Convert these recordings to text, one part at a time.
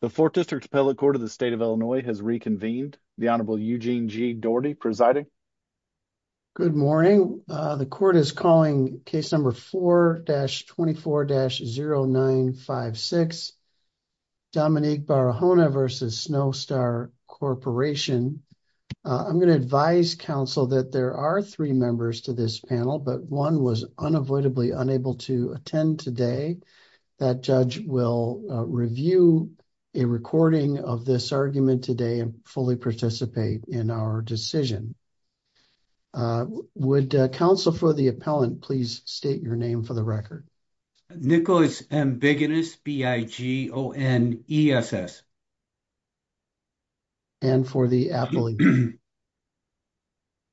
The Fourth District Appellate Court of the State of Illinois has reconvened. The Honorable Eugene G. Daugherty presiding. Good morning. The court is calling case number 4-24-0956, Dominique Barahona v. Snowstar Corporation. I'm going to advise counsel that there are three members to this panel, but one was unavoidably unable to attend today. That judge will review a recording of this argument today and fully participate in our decision. Would counsel for the appellant please state your name for the record? Nicholas Ambigoness, B-I-G-O-N-E-S-S. And for the appellant?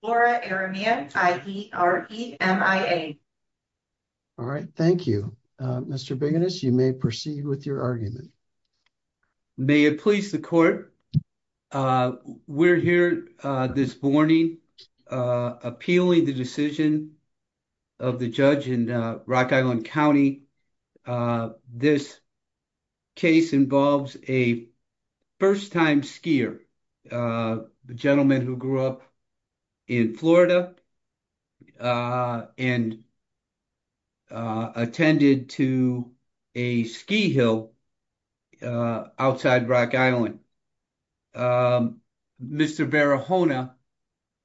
Laura Aramia, I-E-R-E-M-I-A. All right. Thank you. Mr. Ambigoness, you may proceed with your argument. May it please the court, we're here this morning appealing the decision of the judge in Rock Island County. This case involves a first-time skier, a gentleman who grew up in Florida and attended to a ski hill outside Rock Island. Mr. Barahona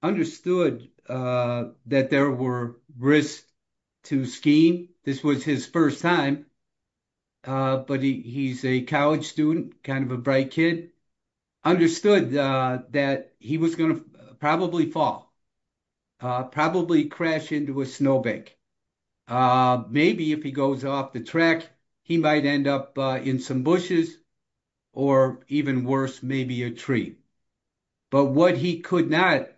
understood that there were risks to skiing. This was his first time, but he's a college student, kind of a bright kid. Understood that he was going to probably fall, probably crash into a snowbank. Maybe if he goes off the track, he might end up in some bushes or even worse, maybe a tree. But what he could not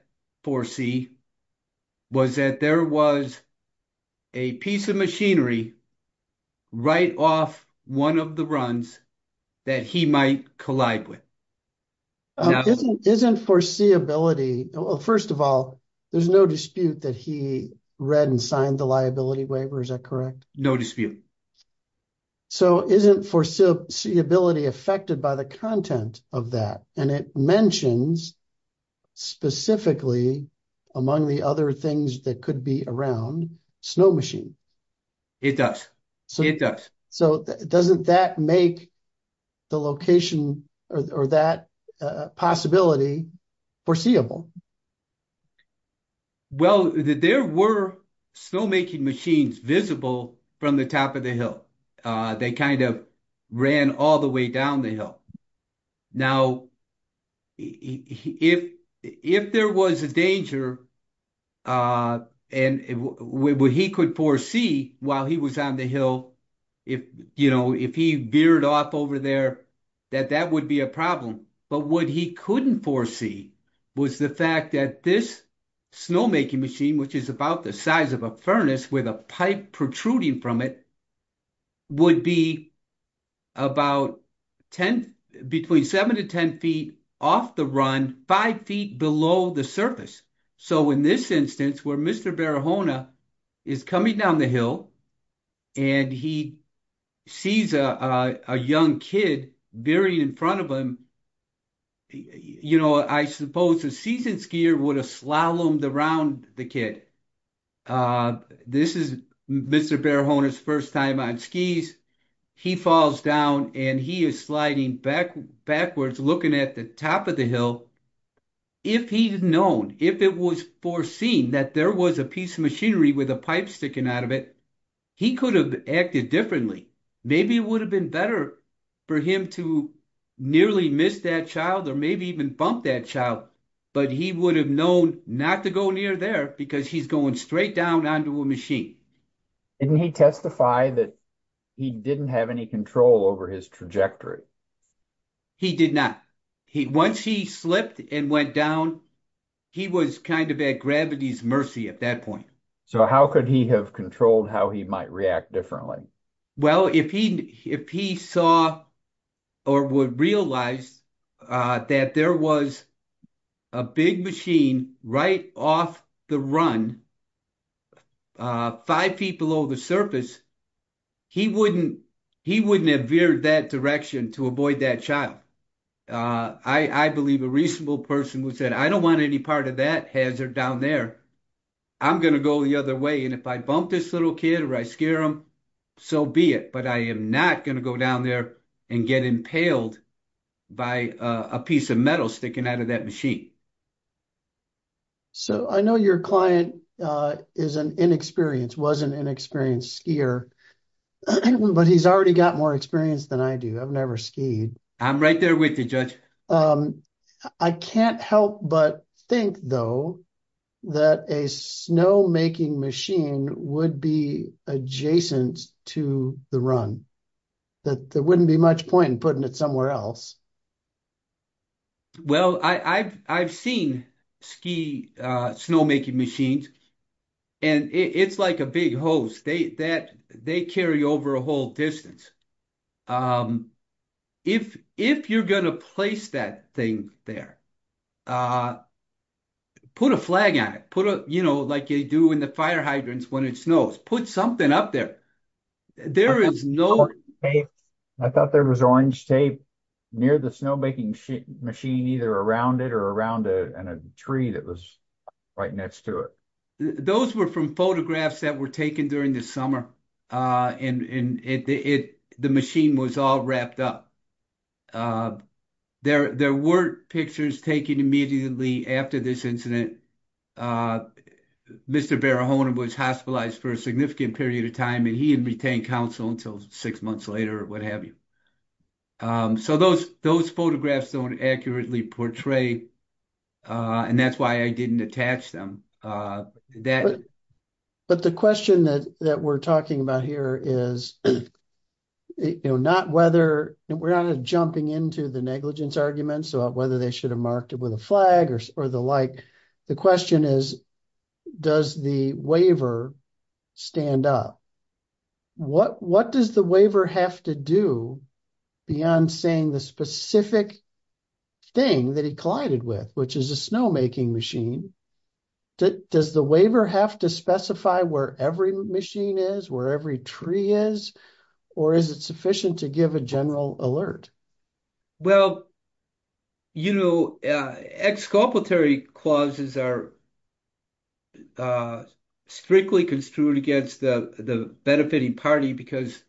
foresee was that there was a piece of machinery right off one of the runs that he might collide with. Isn't foreseeability, well, first of all, there's no dispute that he read and signed the liability waiver, is that correct? No dispute. So isn't foreseeability affected by the content of that? And it mentions specifically, among the other things that could be around, snow machine. It does. It does. So doesn't that make the location or that possibility foreseeable? Well, there were snowmaking machines visible from the top of the hill. They kind of ran all the way down the hill. Now, if there was a danger and what he could foresee while he was on the hill, if he veered off over there, that that would be a problem. But what he couldn't foresee was the fact that this snowmaking machine, which is about the size of a furnace with a pipe protruding from it, would be about between 7 to 10 feet off the run, 5 feet below the surface. So in this instance, where Mr. Barahona is coming down the hill and he sees a young kid veering in front of him, you know, I suppose a seasoned skier would have slalomed around the kid. This is Mr. Barahona's first time on skis. He falls down and he is sliding backwards, looking at the top of the hill. If he'd known, if it was foreseen that there was a piece of machinery with a pipe sticking out of it, he could have acted differently. Maybe it would have been better for him to nearly miss that child or maybe even bump that child, but he would have known not to go near there because he's going straight down onto a machine. Didn't he testify that he didn't have any control over his trajectory? He did not. Once he slipped and went down, he was kind of at gravity's mercy at that point. So how could he have controlled how he might react differently? Well, if he saw or would realize that there was a big machine right off the run, five feet below the surface, he wouldn't have veered that direction to avoid that child. I believe a reasonable person would say, I don't want any part of that hazard down there. I'm going to go the other way and if I bump this little kid or I scare him, so be it. But I am not going to go down there and get impaled by a piece of metal sticking out of that machine. So I know your client is an inexperienced, was an inexperienced skier, but he's already got more experience than I do. I've never skied. I'm right there with you, Judge. I can't help but think, though, that a snowmaking machine would be adjacent to the run, that there wouldn't be much point in putting it somewhere else. Well, I've seen ski snowmaking machines and it's like a big hose. They carry over a whole distance. If you're going to place that thing there, put a flag on it, like they do in the fire hydrants when it snows. Put something up there. There is no... I thought there was orange tape near the snowmaking machine, either around it or around a tree that was right next to it. Those were from photographs that were taken during the summer and the machine was all wrapped up. There were pictures taken immediately after this incident. Mr. Barahona was hospitalized for a significant period of time and he didn't retain counsel until six months later or what have you. So, those photographs don't accurately portray and that's why I didn't attach them. But the question that we're talking about here is, we're not jumping into the negligence arguments about whether they should have marked it with a flag or the like. The question is, does the waiver stand up? What does the waiver have to do beyond saying the specific thing that he collided with, which is a snowmaking machine? Does the waiver have to specify where every machine is, where every tree is, or is it sufficient to give a general alert? Well, you know, exculpatory clauses are strictly construed against the benefiting party because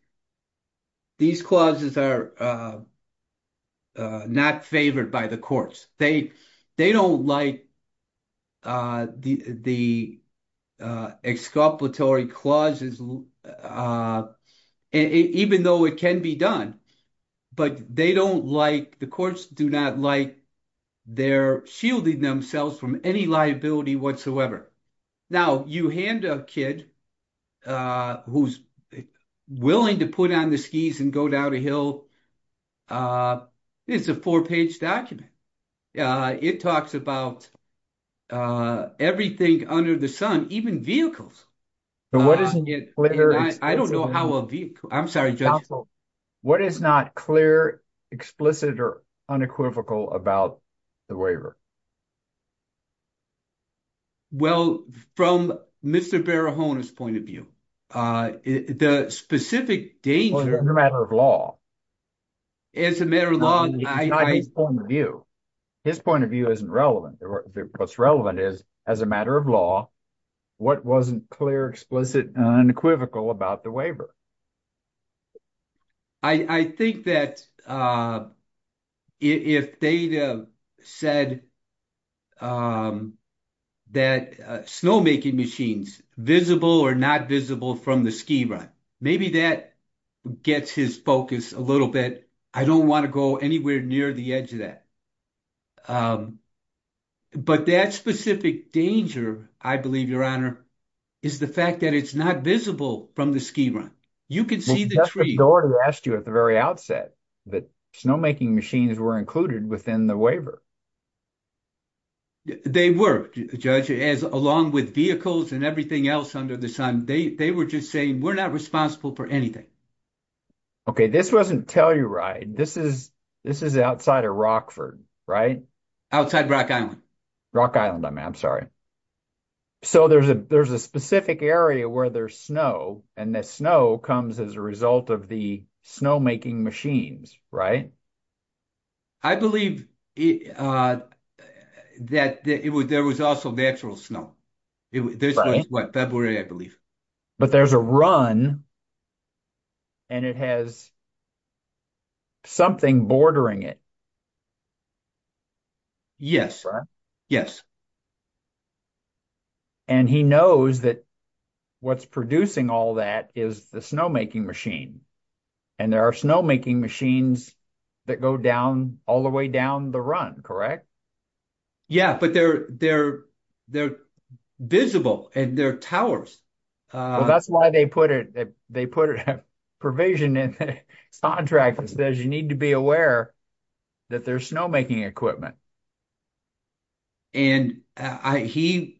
these clauses are not favored by the courts. They don't like the exculpatory clauses, even though it can be done, but they don't like, the courts do not like their shielding themselves from any liability whatsoever. Now, you hand a kid who's willing to put on the skis and go down a hill, it's a four-page document. It talks about everything under the sun, even vehicles. I don't know how a vehicle, I'm sorry, Judge. What is not clear, explicit, or unequivocal about the waiver? Well, from Mr. Barahona's point of view, the specific danger... Well, it's a matter of law. It's a matter of law. It's not his point of view. His point of view isn't relevant. What's relevant is, as a matter of law, what wasn't clear, explicit, unequivocal about the waiver? I think that if they said that snowmaking machines, visible or not visible from the ski run, maybe that gets his focus a little bit. I don't want to go anywhere near the edge of that. But that specific danger, I believe, Your Honor, is the fact that it's not visible from the ski run. You can see the tree. But that's what the order asked you at the very outset, that snowmaking machines were included within the waiver. They were, Judge, along with vehicles and everything else under the sun. They were just saying, we're not responsible for anything. Okay. This wasn't Telluride. This is outside of Rockford, right? Outside Rock Island. Rock Island. I'm sorry. So there's a specific area where there's snow, and that snow comes as a result of the snowmaking machines, right? I believe that there was also natural snow. February, I believe. But there's a run, and it has something bordering it. Yes. Yes. And he knows that what's producing all that is the snowmaking machine. And there are snowmaking machines that go down, all the way down the run, correct? Yeah, but they're visible, and they're towers. Well, that's why they put a provision in the contract that says you need to be aware that there's snowmaking equipment. And he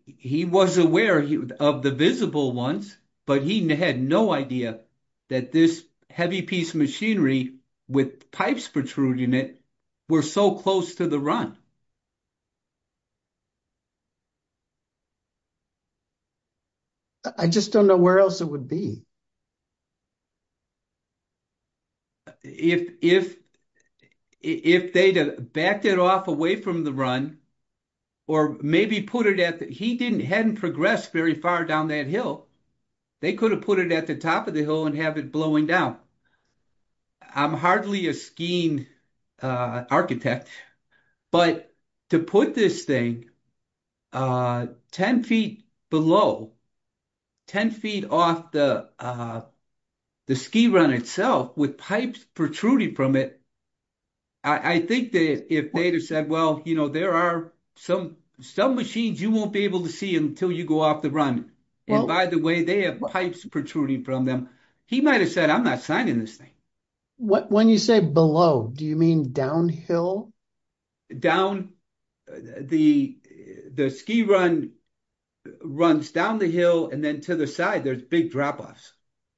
was aware of the visible ones, but he had no idea that this heavy piece of machinery with pipes protruding it were so close to the run. I just don't know where else it would be. If they had backed it off away from the run, or maybe put it at the ‑‑ he hadn't progressed very far down that hill. They could have put it at the top of the hill and have it blowing down. I'm hardly a skiing architect. But to put this thing 10 feet below, 10 feet off the ski run itself with pipes protruding from it, I think that if they had said, well, you know, there are some machines you won't be able to see until you go off the run. And by the way, they have pipes protruding from them. He might have said, I'm not signing this thing. When you say below, do you mean downhill? Down, the ski run runs down the hill and then to the side there's big drop offs.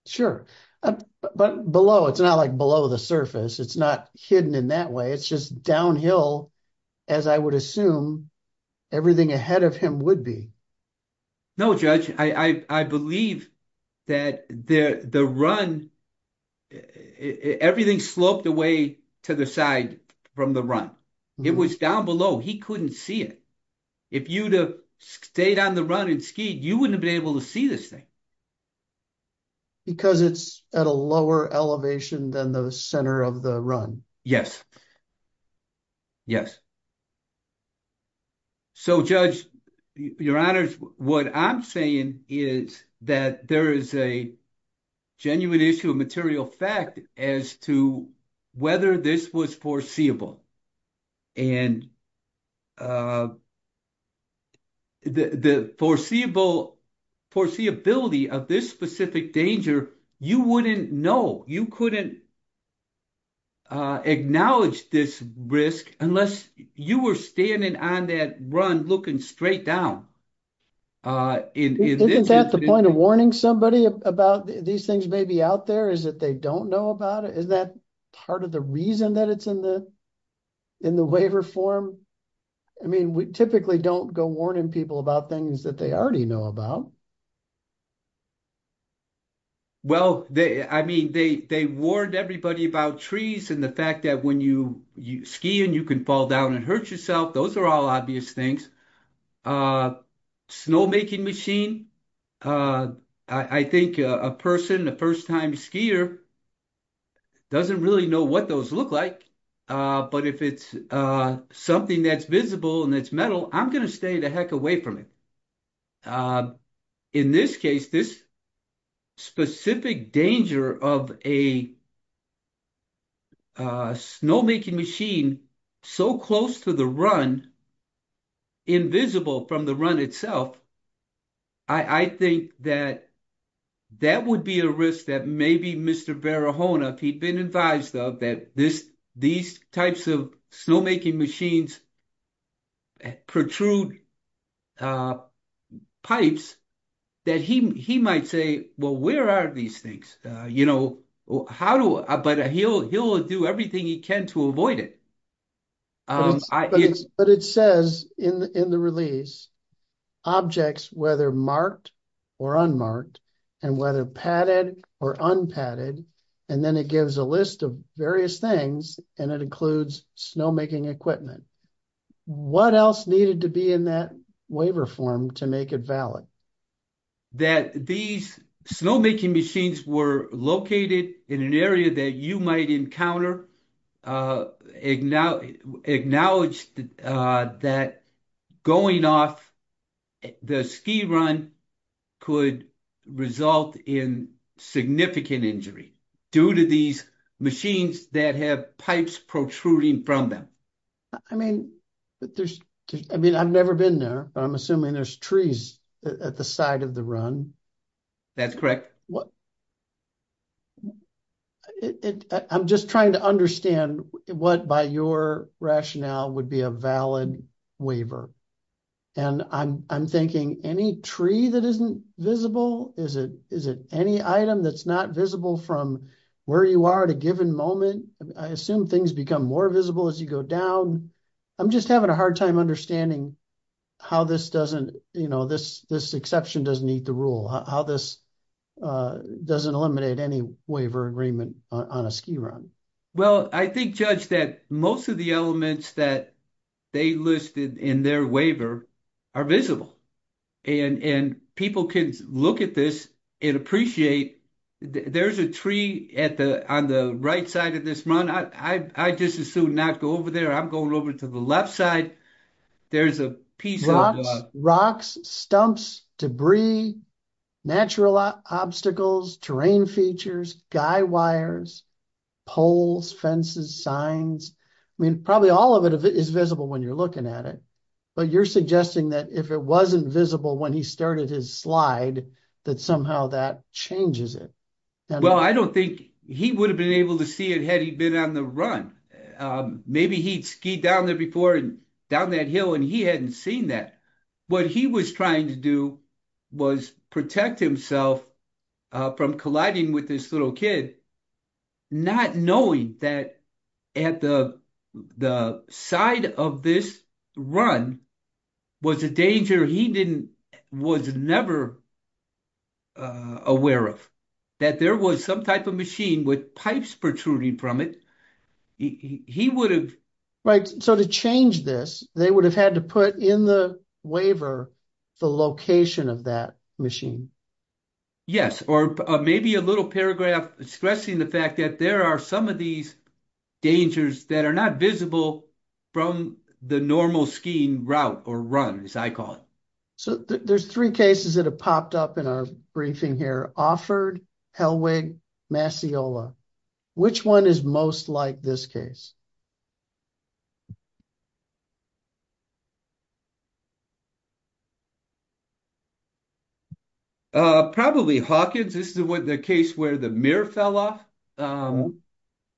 Sure. But below, it's not like below the surface. It's not hidden in that way. It's just downhill as I would assume everything ahead of him would be. No, Judge, I believe that the run, everything sloped away to the side from the run. It was down below. He couldn't see it. If you had stayed on the run and skied, you wouldn't have been able to see this thing. Because it's at a lower elevation than the center of the run. Yes. Yes. So, Judge, Your Honors, what I'm saying is that there is a genuine issue of material fact as to whether this was foreseeable. And the foreseeability of this specific danger, you wouldn't know. You couldn't acknowledge this risk unless you were standing on that run looking straight down. Isn't that the point of warning somebody about these things may be out there is that they don't know about it? Isn't that part of the reason that it's in the waiver form? I mean, we typically don't go warning people about things that they already know about. Well, I mean, they warned everybody about trees and the fact that when you ski and you can fall down and hurt yourself. Those are all obvious things. Snow making machine. I think a person, the first time skier. Doesn't really know what those look like. But if it's something that's visible and it's metal, I'm going to stay the heck away from it. In this case, this. Specific danger of a. Snow making machine so close to the run. Invisible from the run itself. I think that that would be a risk that maybe Mr. If he'd been advised of that, this, these types of snow making machines. Protrude pipes. That he, he might say, well, where are these things, you know, how do I, but he'll, he'll do everything he can to avoid it. But it says in the, in the release. Objects, whether marked or unmarked. And whether padded or unpadded, and then it gives a list of various things and it includes snow making equipment. What else needed to be in that waiver form to make it valid. That these snow making machines were located in an area that you might encounter. Acknowledged that. Going off the ski run. Could result in significant injury. Due to these machines that have pipes protruding from them. I mean, there's, I mean, I've never been there, but I'm assuming there's trees at the side of the run. That's correct. I'm just trying to understand what by your rationale would be a valid waiver. And I'm, I'm thinking any tree that isn't visible, is it, is it any item that's not visible from where you are at a given moment? I assume things become more visible as you go down. I'm just having a hard time understanding how this doesn't, you know, this, this exception doesn't need the rule how this. Doesn't eliminate any waiver agreement on a ski run. Well, I think judge that most of the elements that. They listed in their waiver are visible. And people can look at this and appreciate. There's a tree at the on the right side of this run. I just assume not go over there. I'm going over to the left side. There's a piece of rocks, stumps, debris. Natural obstacles, terrain features, guy wires. Poles fences signs, I mean, probably all of it is visible when you're looking at it. But you're suggesting that if it wasn't visible when he started his slide, that somehow that changes it. Well, I don't think he would have been able to see it had he been on the run. Maybe he'd ski down there before and down that hill and he hadn't seen that. What he was trying to do was protect himself from colliding with this little kid. Not knowing that at the side of this run. Was a danger he didn't was never. Aware of that there was some type of machine with pipes protruding from it. He would have right. So to change this, they would have had to put in the waiver. The location of that machine. Yes, or maybe a little paragraph, stressing the fact that there are some of these. Dangers that are not visible from the normal skiing route or run as I call it. So there's three cases that have popped up in our briefing here offered. Massiola, which one is most like this case. Probably Hawkins. This is what the case where the mirror fell off.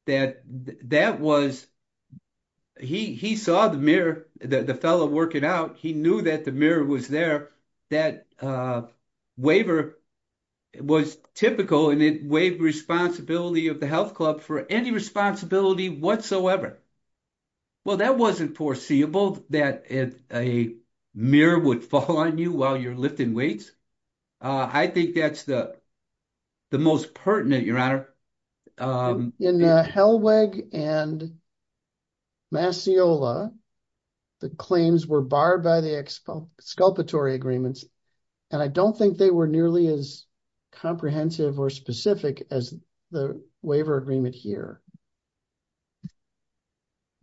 That that was he he saw the mirror that the fellow working out. He knew that the mirror was there. That waiver was typical and it wave responsibility of the health club for any responsibility whatsoever. Well, that wasn't foreseeable that a mirror would fall on you while you're lifting weights. I think that's the, the most pertinent your honor. In Helweg and. Massiola, the claims were barred by the expo sculptor agreements. And I don't think they were nearly as comprehensive or specific as the waiver agreement here.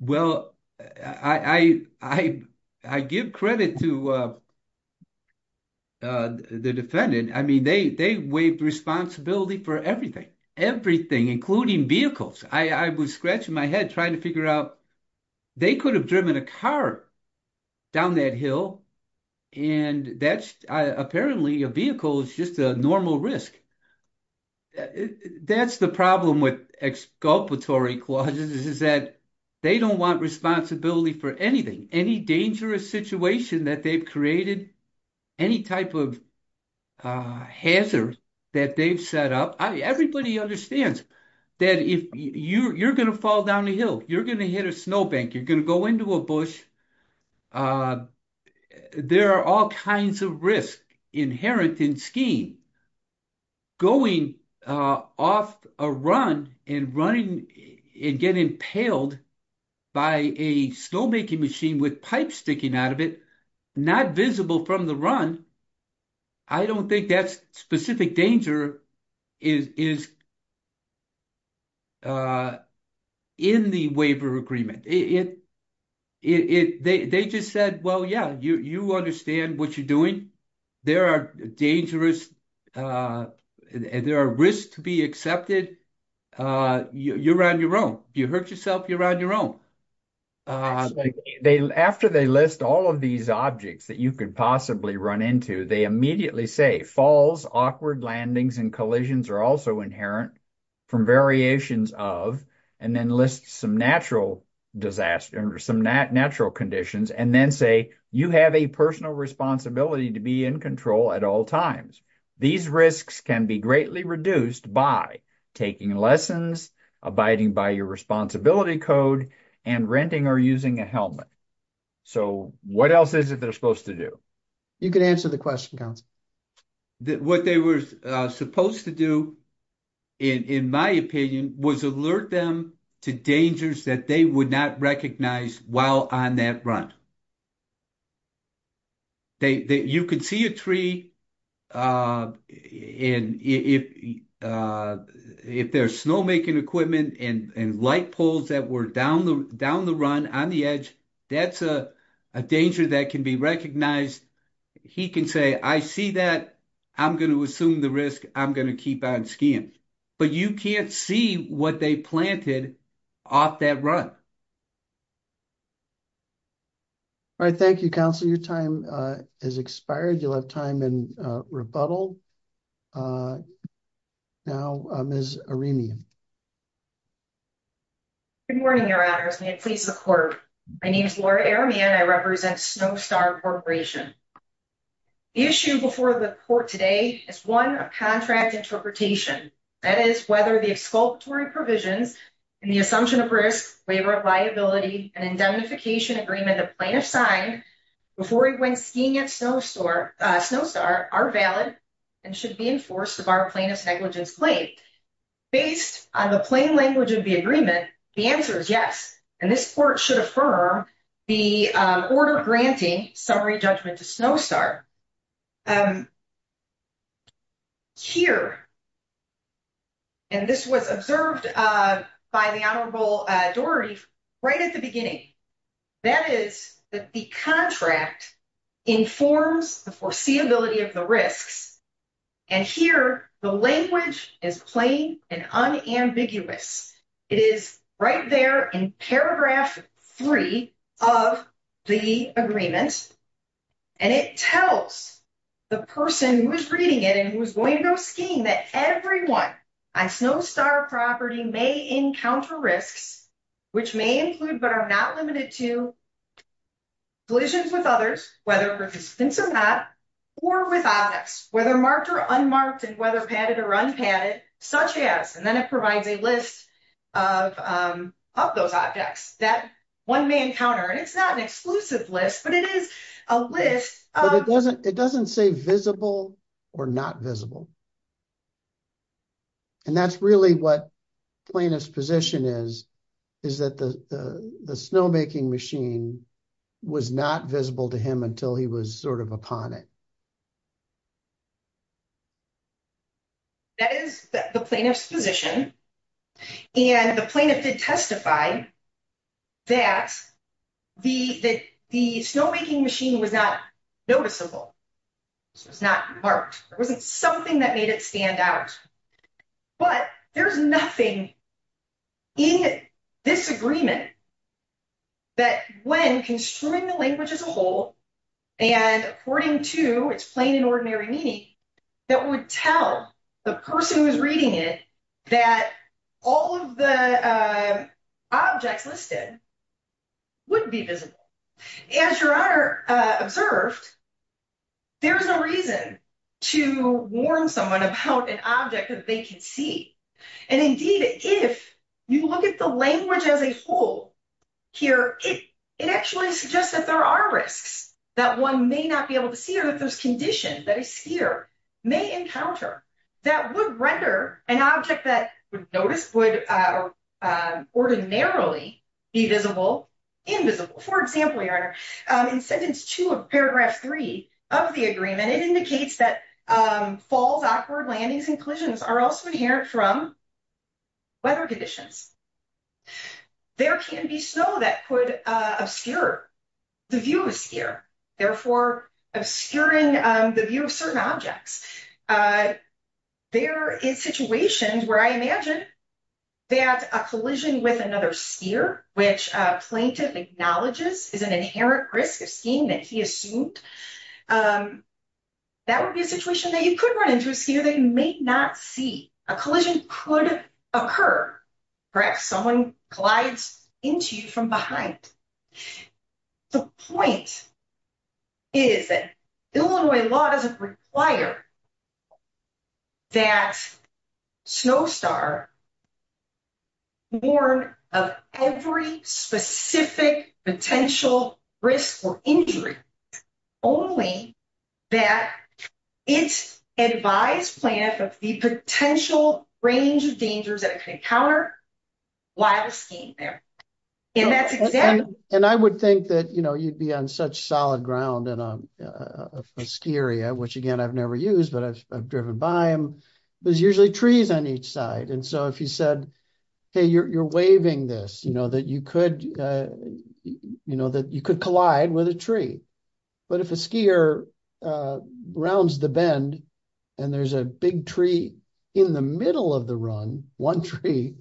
Well, I, I, I, I give credit to. The defendant, I mean, they, they waived responsibility for everything, everything, including vehicles. I was scratching my head, trying to figure out. They could have driven a car down that hill. And that's apparently a vehicle is just a normal risk. That's the problem with exculpatory clauses is that they don't want responsibility for anything. Any dangerous situation that they've created. Any type of hazard that they've set up. Everybody understands that if you're going to fall down a hill, you're going to hit a snowbank. You're going to go into a bush. There are all kinds of risk inherent in scheme. Going off a run and running and getting impaled. By a snowmaking machine with pipe sticking out of it, not visible from the run. I don't think that's specific danger is. In the waiver agreement, it, it, it, they, they just said, well, yeah, you, you understand what you're doing. There are dangerous and there are risks to be accepted. You're on your own. You hurt yourself. You're on your own. After they list all of these objects that you could possibly run into, they immediately say falls, awkward landings and collisions are also inherent. From variations of, and then list some natural disaster or some natural conditions and then say, you have a personal responsibility to be in control at all times. These risks can be greatly reduced by taking lessons, abiding by your responsibility code and renting or using a helmet. So, what else is it they're supposed to do? You can answer the question. What they were supposed to do. In my opinion, was alert them to dangers that they would not recognize while on that run. They, you can see a tree. And if, if there's snow making equipment and light poles that were down the, down the run on the edge, that's a danger that can be recognized. He can say, I see that. I'm going to assume the risk. I'm going to keep on skiing, but you can't see what they planted off that run. All right, thank you. Counselor. Your time is expired. You'll have time and rebuttal. Now, I'm as a remian. Good morning. Your honors. May it please the court. My name is Laura airman. I represent snow star corporation. Issue before the court today is one of contract interpretation. That is whether the sculptor and provisions and the assumption of risk, labor, liability and indemnification agreement, a plan of sign. Before he went skiing at snow store, snow star are valid and should be enforced of our plaintiff's negligence. Based on the plain language of the agreement. The answer is yes. And this court should affirm the order granting summary judgment to snow star. Here. And this was observed by the honorable Dorothy right at the beginning. That is the contract informs the foreseeability of the risks. And here the language is plain and unambiguous. It is right there in paragraph 3 of the agreement. And it tells the person who is reading it and who's going to go skiing that everyone. I snow star property may encounter risks, which may include, but are not limited to collisions with others, whether participants or not. Or without us, whether marked or unmarked and whether padded or run padded, such as, and then it provides a list of of those objects that one may encounter. And it's not an exclusive list, but it is a list. It doesn't it doesn't say visible or not visible. And that's really what plaintiff's position is. Is that the, the snowmaking machine was not visible to him until he was sort of upon it. That is the plaintiff's position and the plaintiff did testify. That the, the, the snowmaking machine was not noticeable. It's not marked. It wasn't something that made it stand out. But there's nothing in this agreement. That when construing the language as a whole. And according to it's plain and ordinary meaning. That would tell the person who's reading it. That all of the objects listed. Would be visible as your honor observed. There is no reason to warn someone about an object that they can see. And indeed, if you look at the language as a whole. Here, it, it actually suggests that there are risks. That one may not be able to see or that there's condition that a sphere may encounter. That would render an object that would notice would ordinarily be visible. Invisible, for example, your honor in sentence 2 of paragraph 3 of the agreement. And it indicates that falls, awkward landings and collisions are also inherent from weather conditions. There can be snow that could obscure the view of a sphere. Therefore, obscuring the view of certain objects. There is situations where I imagine that a collision with another sphere. Which plaintiff acknowledges is an inherent risk of skiing that he assumed. That would be a situation that you could run into a sphere that you may not see. A collision could occur. Perhaps someone glides into you from behind. The point is that Illinois law doesn't require. That snow star. Warn of every specific potential risk or injury. Only that it's advised plant of the potential range of dangers that I could encounter. While the scheme there. And that's exactly and I would think that, you know, you'd be on such solid ground and I'm scary. Which again, I've never used, but I've driven by him. There's usually trees on each side. And so if you said, hey, you're, you're waving this, you know, that you could, you know, that you could collide with a tree. But if a skier rounds the bend. And there's a big tree in the middle of the run 1 tree.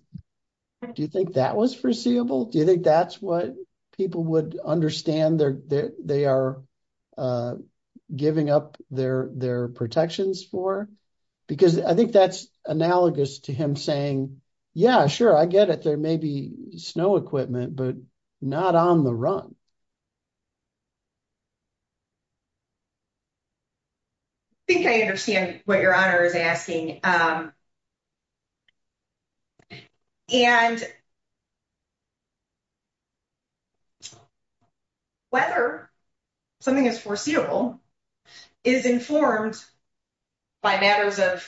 Do you think that was foreseeable? Do you think that's what people would understand there? They are. Giving up their, their protections for because I think that's analogous to him saying, yeah, sure. I get it. There may be snow equipment, but not on the run. I think I understand what your honor is asking. And whether something is foreseeable is informed by matters of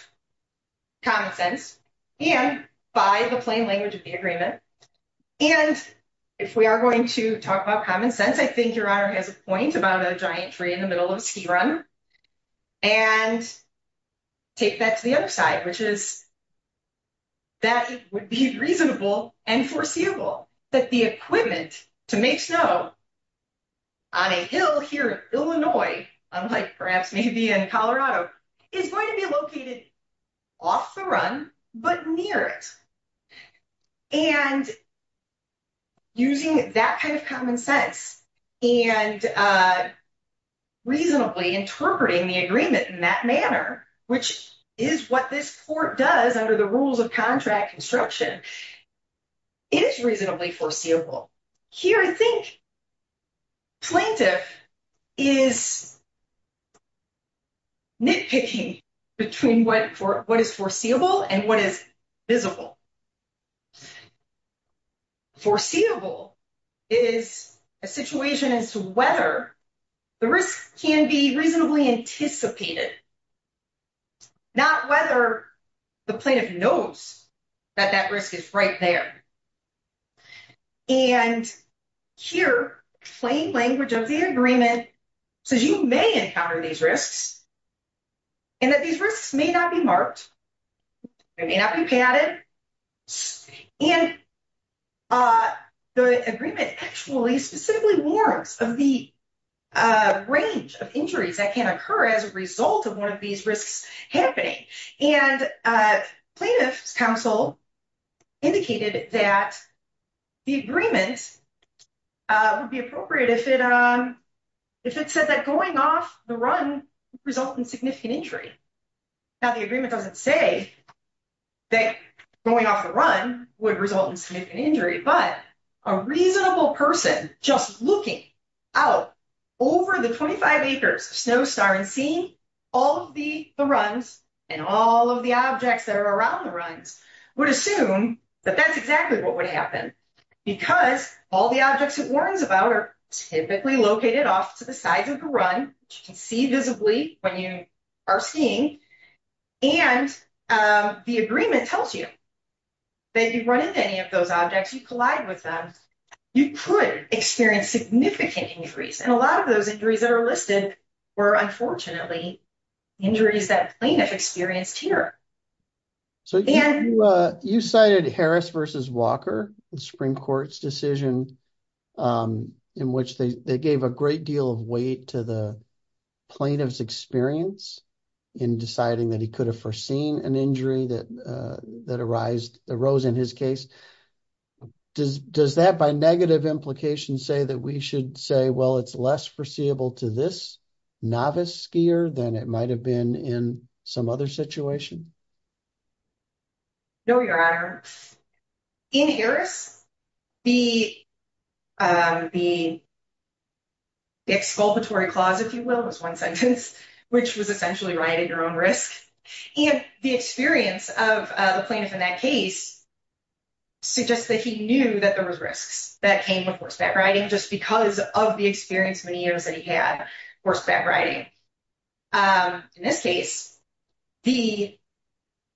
common sense and by the plain language of the agreement. And if we are going to talk about common sense, I think your honor has a point about a giant tree in the middle of a ski run. And take that to the other side, which is. That would be reasonable and foreseeable that the equipment to make snow. On a hill here, Illinois, I'm like, perhaps maybe in Colorado is going to be located off the run, but near it. And using that kind of common sense and reasonably interpreting the agreement in that manner, which is what this court does under the rules of contract instruction. It is reasonably foreseeable here. I think. Plaintiff is nitpicking between what for what is foreseeable and what is visible. Foreseeable is a situation as to whether the risk can be reasonably anticipated. Not whether the plaintiff knows that that risk is right there. And here, plain language of the agreement says you may encounter these risks. And that these risks may not be marked. They may not be padded. And. The agreement actually simply warrants of the range of injuries that can occur as a result of one of these risks happening and plaintiff's counsel. Indicated that the agreement would be appropriate if it if it says that going off the run result in significant injury. Now, the agreement doesn't say that going off the run would result in significant injury, but a reasonable person just looking out. Over the 25 acres snow star and seeing all of the runs and all of the objects that are around the runs would assume that that's exactly what would happen. Because all the objects it warns about are typically located off to the sides of the run. You can see visibly when you are seeing and the agreement tells you. That you run into any of those objects, you collide with them, you could experience significant injuries and a lot of those injuries that are listed were unfortunately injuries that plaintiff experienced here. So, you cited Harris versus Walker and Supreme Court's decision. In which they gave a great deal of weight to the plaintiff's experience in deciding that he could have foreseen an injury that that arose in his case. Does that by negative implications say that we should say, well, it's less foreseeable to this novice skier than it might have been in some other situation. No, your honor. In Harris, the exculpatory clause, if you will, was one sentence, which was essentially riding your own risk. And the experience of the plaintiff in that case suggests that he knew that there was risks that came with horseback riding just because of the experience many years that he had horseback riding. In this case, the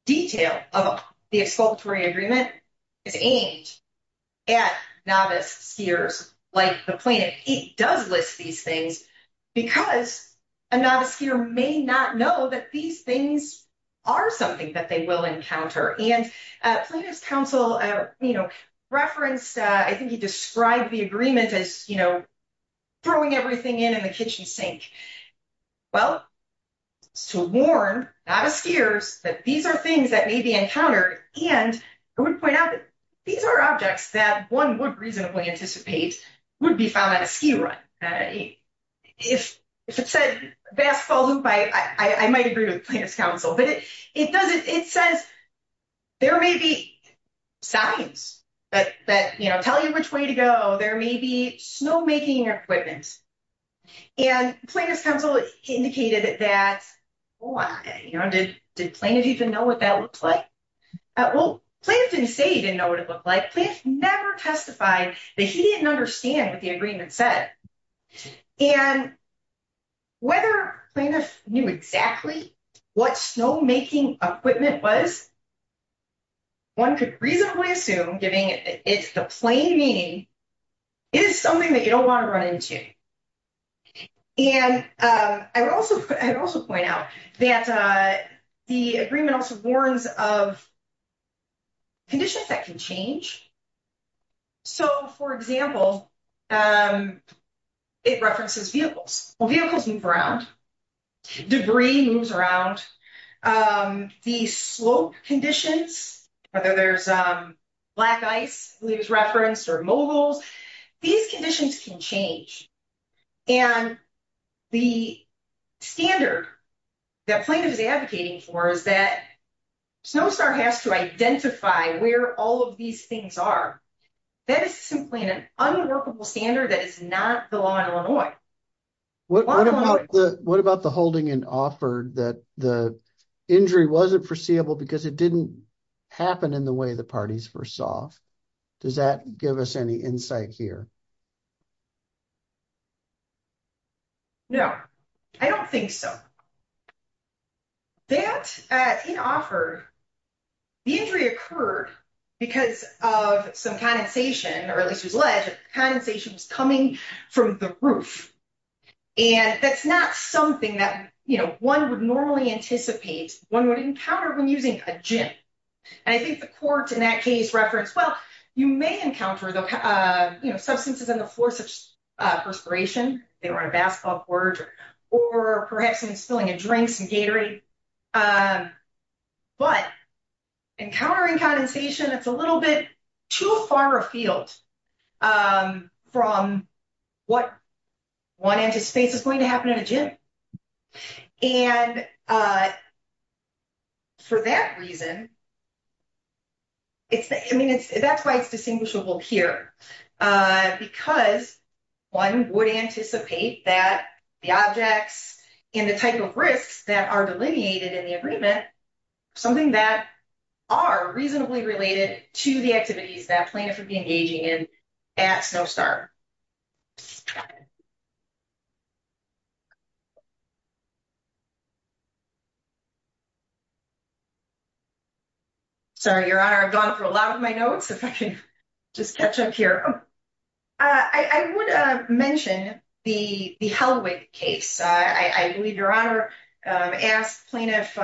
detail of the exculpatory agreement is aimed at novice skiers. Like the plaintiff, he does list these things because a novice skier may not know that these things are something that they will encounter. And plaintiff's counsel referenced, I think he described the agreement as throwing everything in the kitchen sink. Well, to warn novice skiers that these are things that may be encountered. And I would point out that these are objects that one would reasonably anticipate would be found on a ski run. If it said basketball hoop, I might agree with plaintiff's counsel. But it says there may be signs that tell you which way to go. There may be snowmaking equipment. And plaintiff's counsel indicated that, boy, did plaintiff even know what that looked like? Well, plaintiff didn't say he didn't know what it looked like. Plaintiff never testified that he didn't understand what the agreement said. And whether plaintiff knew exactly what snowmaking equipment was, one could reasonably assume, given it's the plain meaning, is something that you don't want to run into. And I would also point out that the agreement also warns of conditions that can change. So, for example, it references vehicles. Well, vehicles move around. Debris moves around. The slope conditions, whether there's black ice, I believe is referenced, or moguls, these conditions can change. And the standard that plaintiff is advocating for is that Snowstar has to identify where all of these things are. That is simply an unworkable standard that is not the law in Illinois. What about the holding and offer that the injury wasn't foreseeable because it didn't happen in the way the parties foresaw? Does that give us any insight here? No, I don't think so. That, in offer, the injury occurred because of some condensation, or at least it was alleged condensation was coming from the roof. And that's not something that, you know, one would normally anticipate one would encounter when using a gym. And I think the court in that case referenced, well, you may encounter, you know, subsequent injuries. Substances in the force of perspiration, they were in a basketball court, or perhaps in spilling a drink, some Gatorade. But encountering condensation, it's a little bit too far afield from what one anticipates is going to happen in a gym. And for that reason, I mean, that's why it's distinguishable here. Because one would anticipate that the objects and the type of risks that are delineated in the agreement, something that are reasonably related to the activities that plaintiff would be engaging in at Snowstar. Sorry, Your Honor, I've gone through a lot of my notes, if I can just catch up here. I would mention the Helwig case. I believe Your Honor asked plaintiff,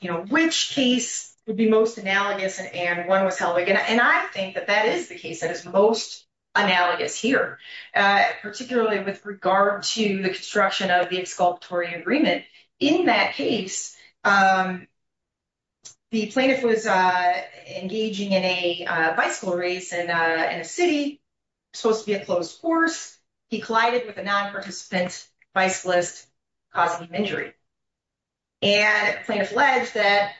you know, which case would be most analogous and one was Helwig. And I think that that is the case that is most analogous to Helwig. Particularly with regard to the construction of the exculpatory agreement. In that case, the plaintiff was engaging in a bicycle race in a city, supposed to be a closed course. He collided with a non-participant bicyclist, causing him injury. And plaintiff alleged that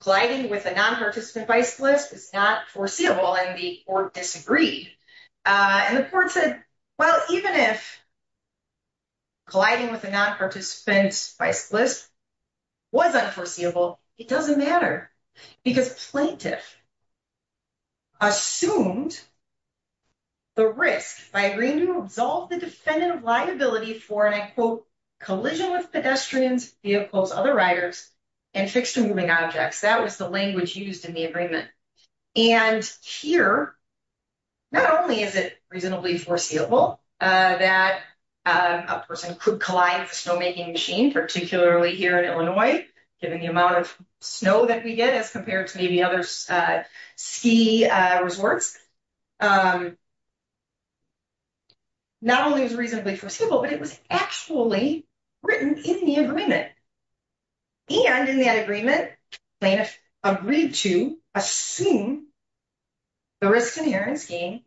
colliding with a non-participant bicyclist is not foreseeable and the court disagreed. And the court said, well, even if colliding with a non-participant bicyclist was unforeseeable, it doesn't matter. Because plaintiff assumed the risk by agreeing to absolve the defendant of liability for, and I quote, collision with pedestrians, vehicles, other riders, and fixed and moving objects. That was the language used in the agreement. And here, not only is it reasonably foreseeable that a person could collide with a snowmaking machine, particularly here in Illinois, given the amount of snow that we get as compared to maybe other ski resorts. Not only is it reasonably foreseeable, but it was actually written in the agreement. And in that agreement, the plaintiff agreed to assume the risk-inherent scheme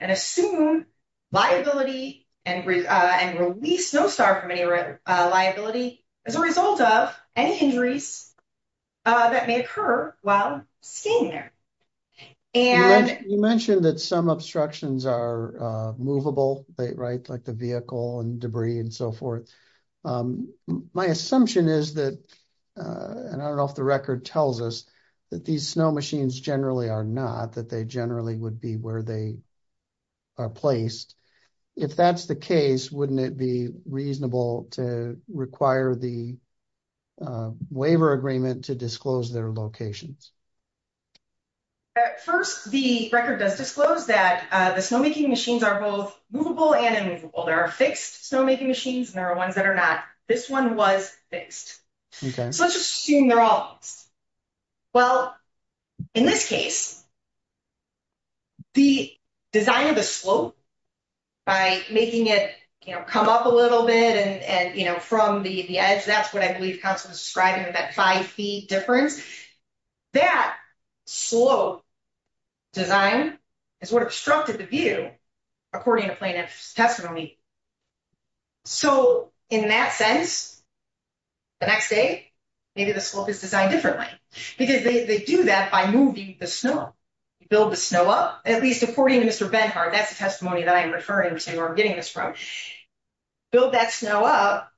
and assume liability and release no star from any liability as a result of any injuries that may occur while skiing there. You mentioned that some obstructions are movable, right, like the vehicle and debris and so forth. My assumption is that, and I don't know if the record tells us, that these snow machines generally are not, that they generally would be where they are placed. If that's the case, wouldn't it be reasonable to require the waiver agreement to disclose their locations? At first, the record does disclose that the snowmaking machines are both movable and immovable. There are fixed snowmaking machines and there are ones that are not. This one was fixed. So let's just assume they're all fixed. Well, in this case, the design of the slope, by making it come up a little bit and from the edge, that's what I believe counsel is describing with that five-feet difference, that slope design is what obstructed the view according to plaintiff's testimony. So in that sense, the next day, maybe the slope is designed differently. Because they do that by moving the snow. Build the snow up, at least according to Mr. Benhart. That's the testimony that I'm referring to or getting this from. Build that snow up.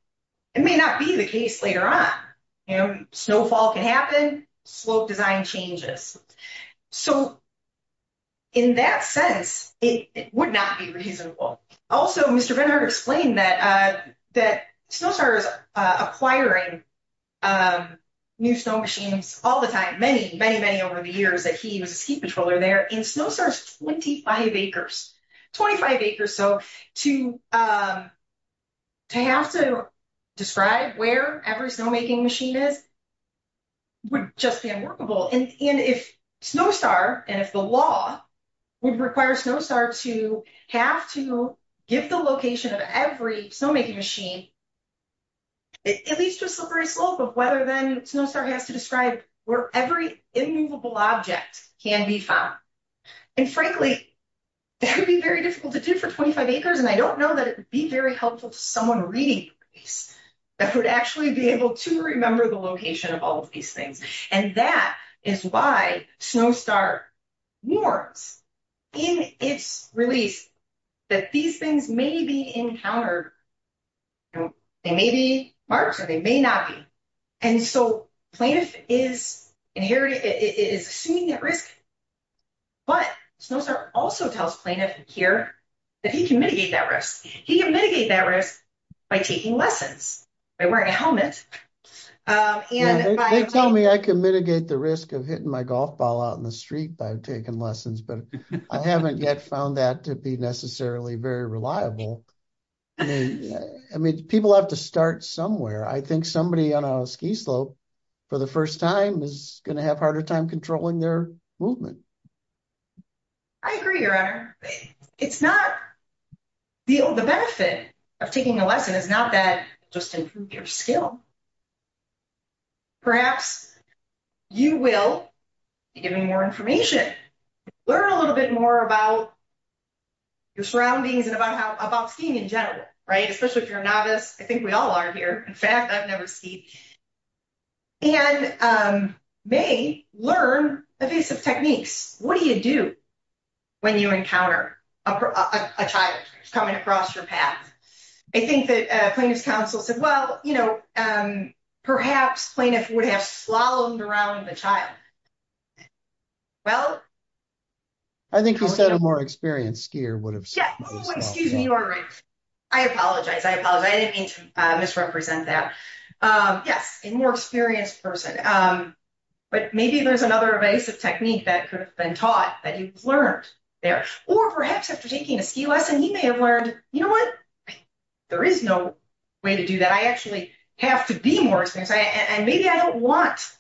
It may not be the case later on. Snowfall can happen. Slope design changes. So in that sense, it would not be reasonable. Also, Mr. Benhart explained that Snowstar is acquiring new snow machines all the time. Many, many, many over the years that he was a ski patroller there. And Snowstar is 25 acres. 25 acres. So to have to describe where every snowmaking machine is would just be unworkable. And if Snowstar and if the law would require Snowstar to have to give the location of every snowmaking machine, at least a slippery slope of whether then Snowstar has to describe where every immovable object can be found. And frankly, that would be very difficult to do for 25 acres. And I don't know that it would be very helpful to someone reading that would actually be able to remember the location of all of these things. And that is why Snowstar warns in its release that these things may be encountered. They may be marked or they may not be. And so plaintiff is assuming that risk. But Snowstar also tells plaintiff here that he can mitigate that risk. He can mitigate that risk by taking lessons, by wearing a helmet. They tell me I can mitigate the risk of hitting my golf ball out in the street by taking lessons, but I haven't yet found that to be necessarily very reliable. I mean, people have to start somewhere. I think somebody on a ski slope for the first time is going to have a harder time controlling their movement. I agree, your honor. It's not the benefit of taking a lesson is not that just improve your skill. Perhaps you will be given more information. Learn a little bit more about your surroundings and about skiing in general, right? Especially if you're a novice. I think we all are here. In fact, I've never skied. And may learn evasive techniques. What do you do when you encounter a child coming across your path? I think that plaintiff's counsel said, well, you know, perhaps plaintiff would have slalomed around the child. Well, I think you said a more experienced skier would have. Yeah, excuse me. You are right. I apologize. I apologize. I didn't mean to misrepresent that. Yes, a more experienced person. But maybe there's another evasive technique that could have been taught that you've learned there. Or perhaps after taking a ski lesson, you may have learned, you know what? There is no way to do that. I actually have to be more experienced. And maybe I don't want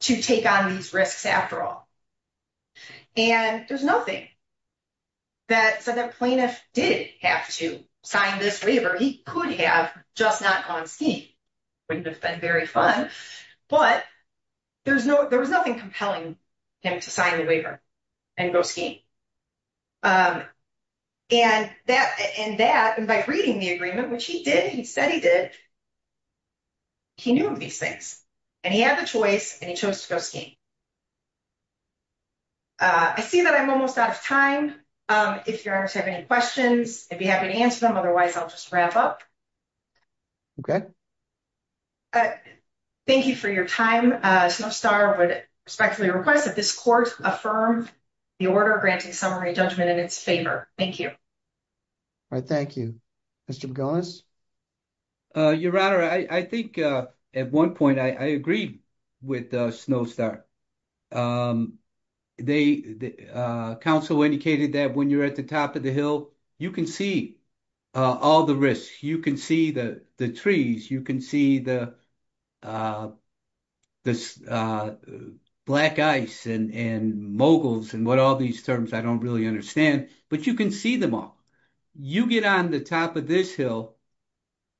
to take on these risks after all. And there's nothing that said that plaintiff did have to sign this waiver. He could have just not gone skiing. Wouldn't have been very fun. But there was nothing compelling him to sign the waiver and go skiing. And that and by reading the agreement, which he did, he said he did. He knew these things and he had the choice and he chose to go skiing. I see that I'm almost out of time. If you have any questions, I'd be happy to answer them. Otherwise, I'll just wrap up. Thank you for your time. Snowstar would respectfully request that this court affirm the order granting summary judgment in its favor. Thank you. All right. Thank you, Mr. McGillis. Your Honor, I think at one point I agreed with Snowstar. The counsel indicated that when you're at the top of the hill, you can see all the risks. You can see the trees. You can see the black ice and moguls and what all these terms. I don't really understand, but you can see them all. You get on the top of this hill.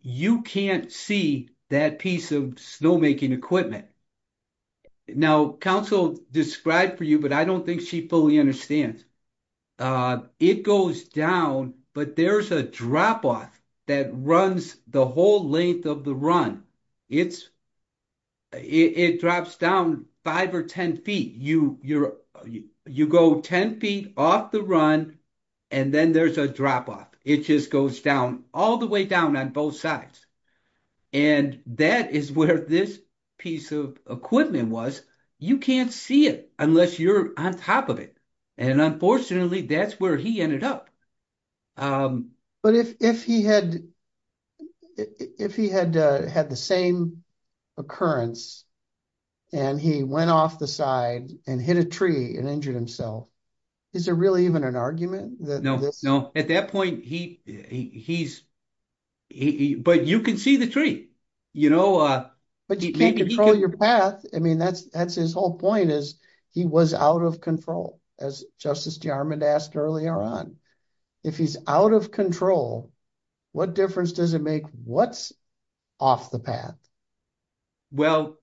You can't see that piece of snowmaking equipment. Now, counsel described for you, but I don't think she fully understands. It goes down, but there's a drop off that runs the whole length of the run. It drops down 5 or 10 feet. You go 10 feet off the run, and then there's a drop off. It just goes down all the way down on both sides. And that is where this piece of equipment was. You can't see it unless you're on top of it. And unfortunately, that's where he ended up. But if he had the same occurrence, and he went off the side and hit a tree and injured himself, is there really even an argument? No. At that point, he's... But you can see the tree. But you can't control your path. I mean, that's his whole point is he was out of control, as Justice Jarmon asked earlier on. If he's out of control, what difference does it make what's off the path? Well,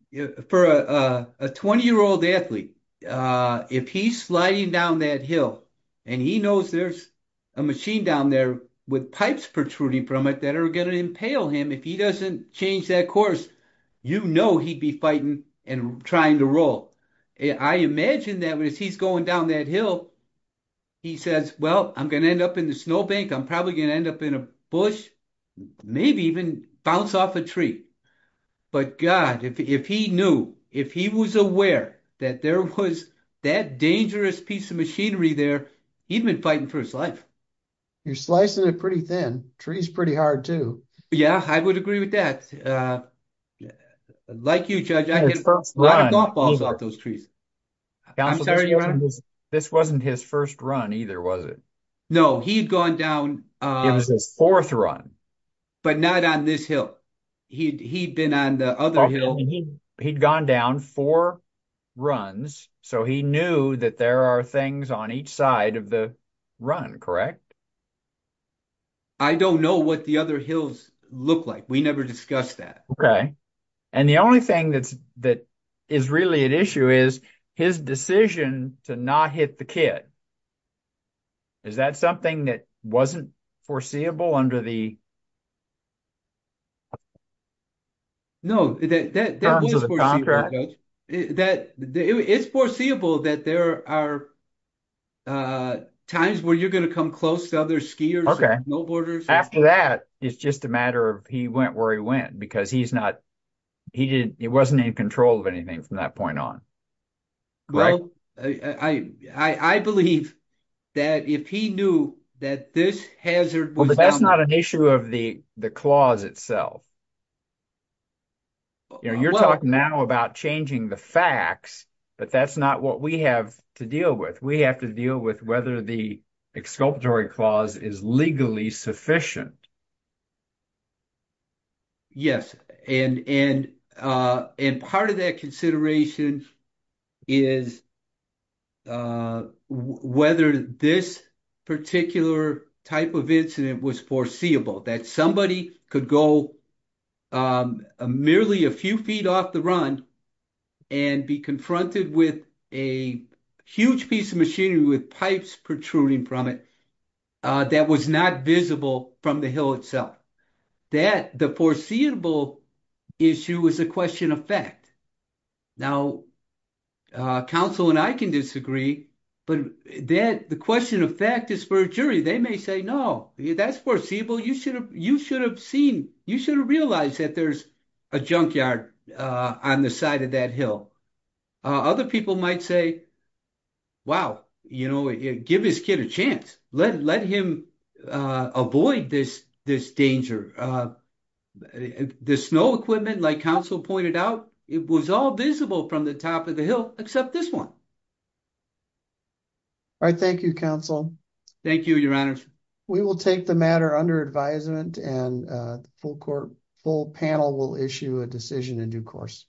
for a 20-year-old athlete, if he's sliding down that hill, and he knows there's a machine down there with pipes protruding from it that are going to impale him, if he doesn't change that course, you know he'd be fighting and trying to roll. I imagine that as he's going down that hill, he says, well, I'm going to end up in the snow bank, I'm probably going to end up in a bush, maybe even bounce off a tree. But God, if he knew, if he was aware that there was that dangerous piece of machinery there, he'd have been fighting for his life. You're slicing it pretty thin. Tree's pretty hard too. Yeah, I would agree with that. Like you, Judge, a lot of thought falls off those trees. Counsel, this wasn't his first run either, was it? No, he'd gone down. It was his fourth run. But not on this hill. He'd been on the other hill. He'd gone down four runs, so he knew that there are things on each side of the run, correct? I don't know what the other hills look like. We never discussed that. Okay. And the only thing that is really at issue is his decision to not hit the kit. Is that something that wasn't foreseeable under the terms of the contract? No, that was foreseeable, Judge. It's foreseeable that there are times where you're going to come close to other skiers and snowboarders. After that, it's just a matter of he went where he went because he wasn't in control of anything from that point on. Well, I believe that if he knew that this hazard was down... That's not an issue of the clause itself. You're talking now about changing the facts, but that's not what we have to deal with. We have to deal with whether the exculpatory clause is legally sufficient. Yes. And part of that consideration is whether this particular type of incident was foreseeable. That somebody could go merely a few feet off the run and be confronted with a huge piece of machinery with pipes protruding from it that was not visible from the hill itself. That the foreseeable issue is a question of fact. Now, counsel and I can disagree, but the question of fact is for a jury. They may say, no, that's foreseeable. You should have realized that there's a junkyard on the side of that hill. Other people might say, wow, give his kid a chance. Let him avoid this danger. The snow equipment, like counsel pointed out, it was all visible from the top of the hill except this one. All right. Thank you, counsel. Thank you, your honor. We will take the matter under advisement and the full panel will issue a decision in due course.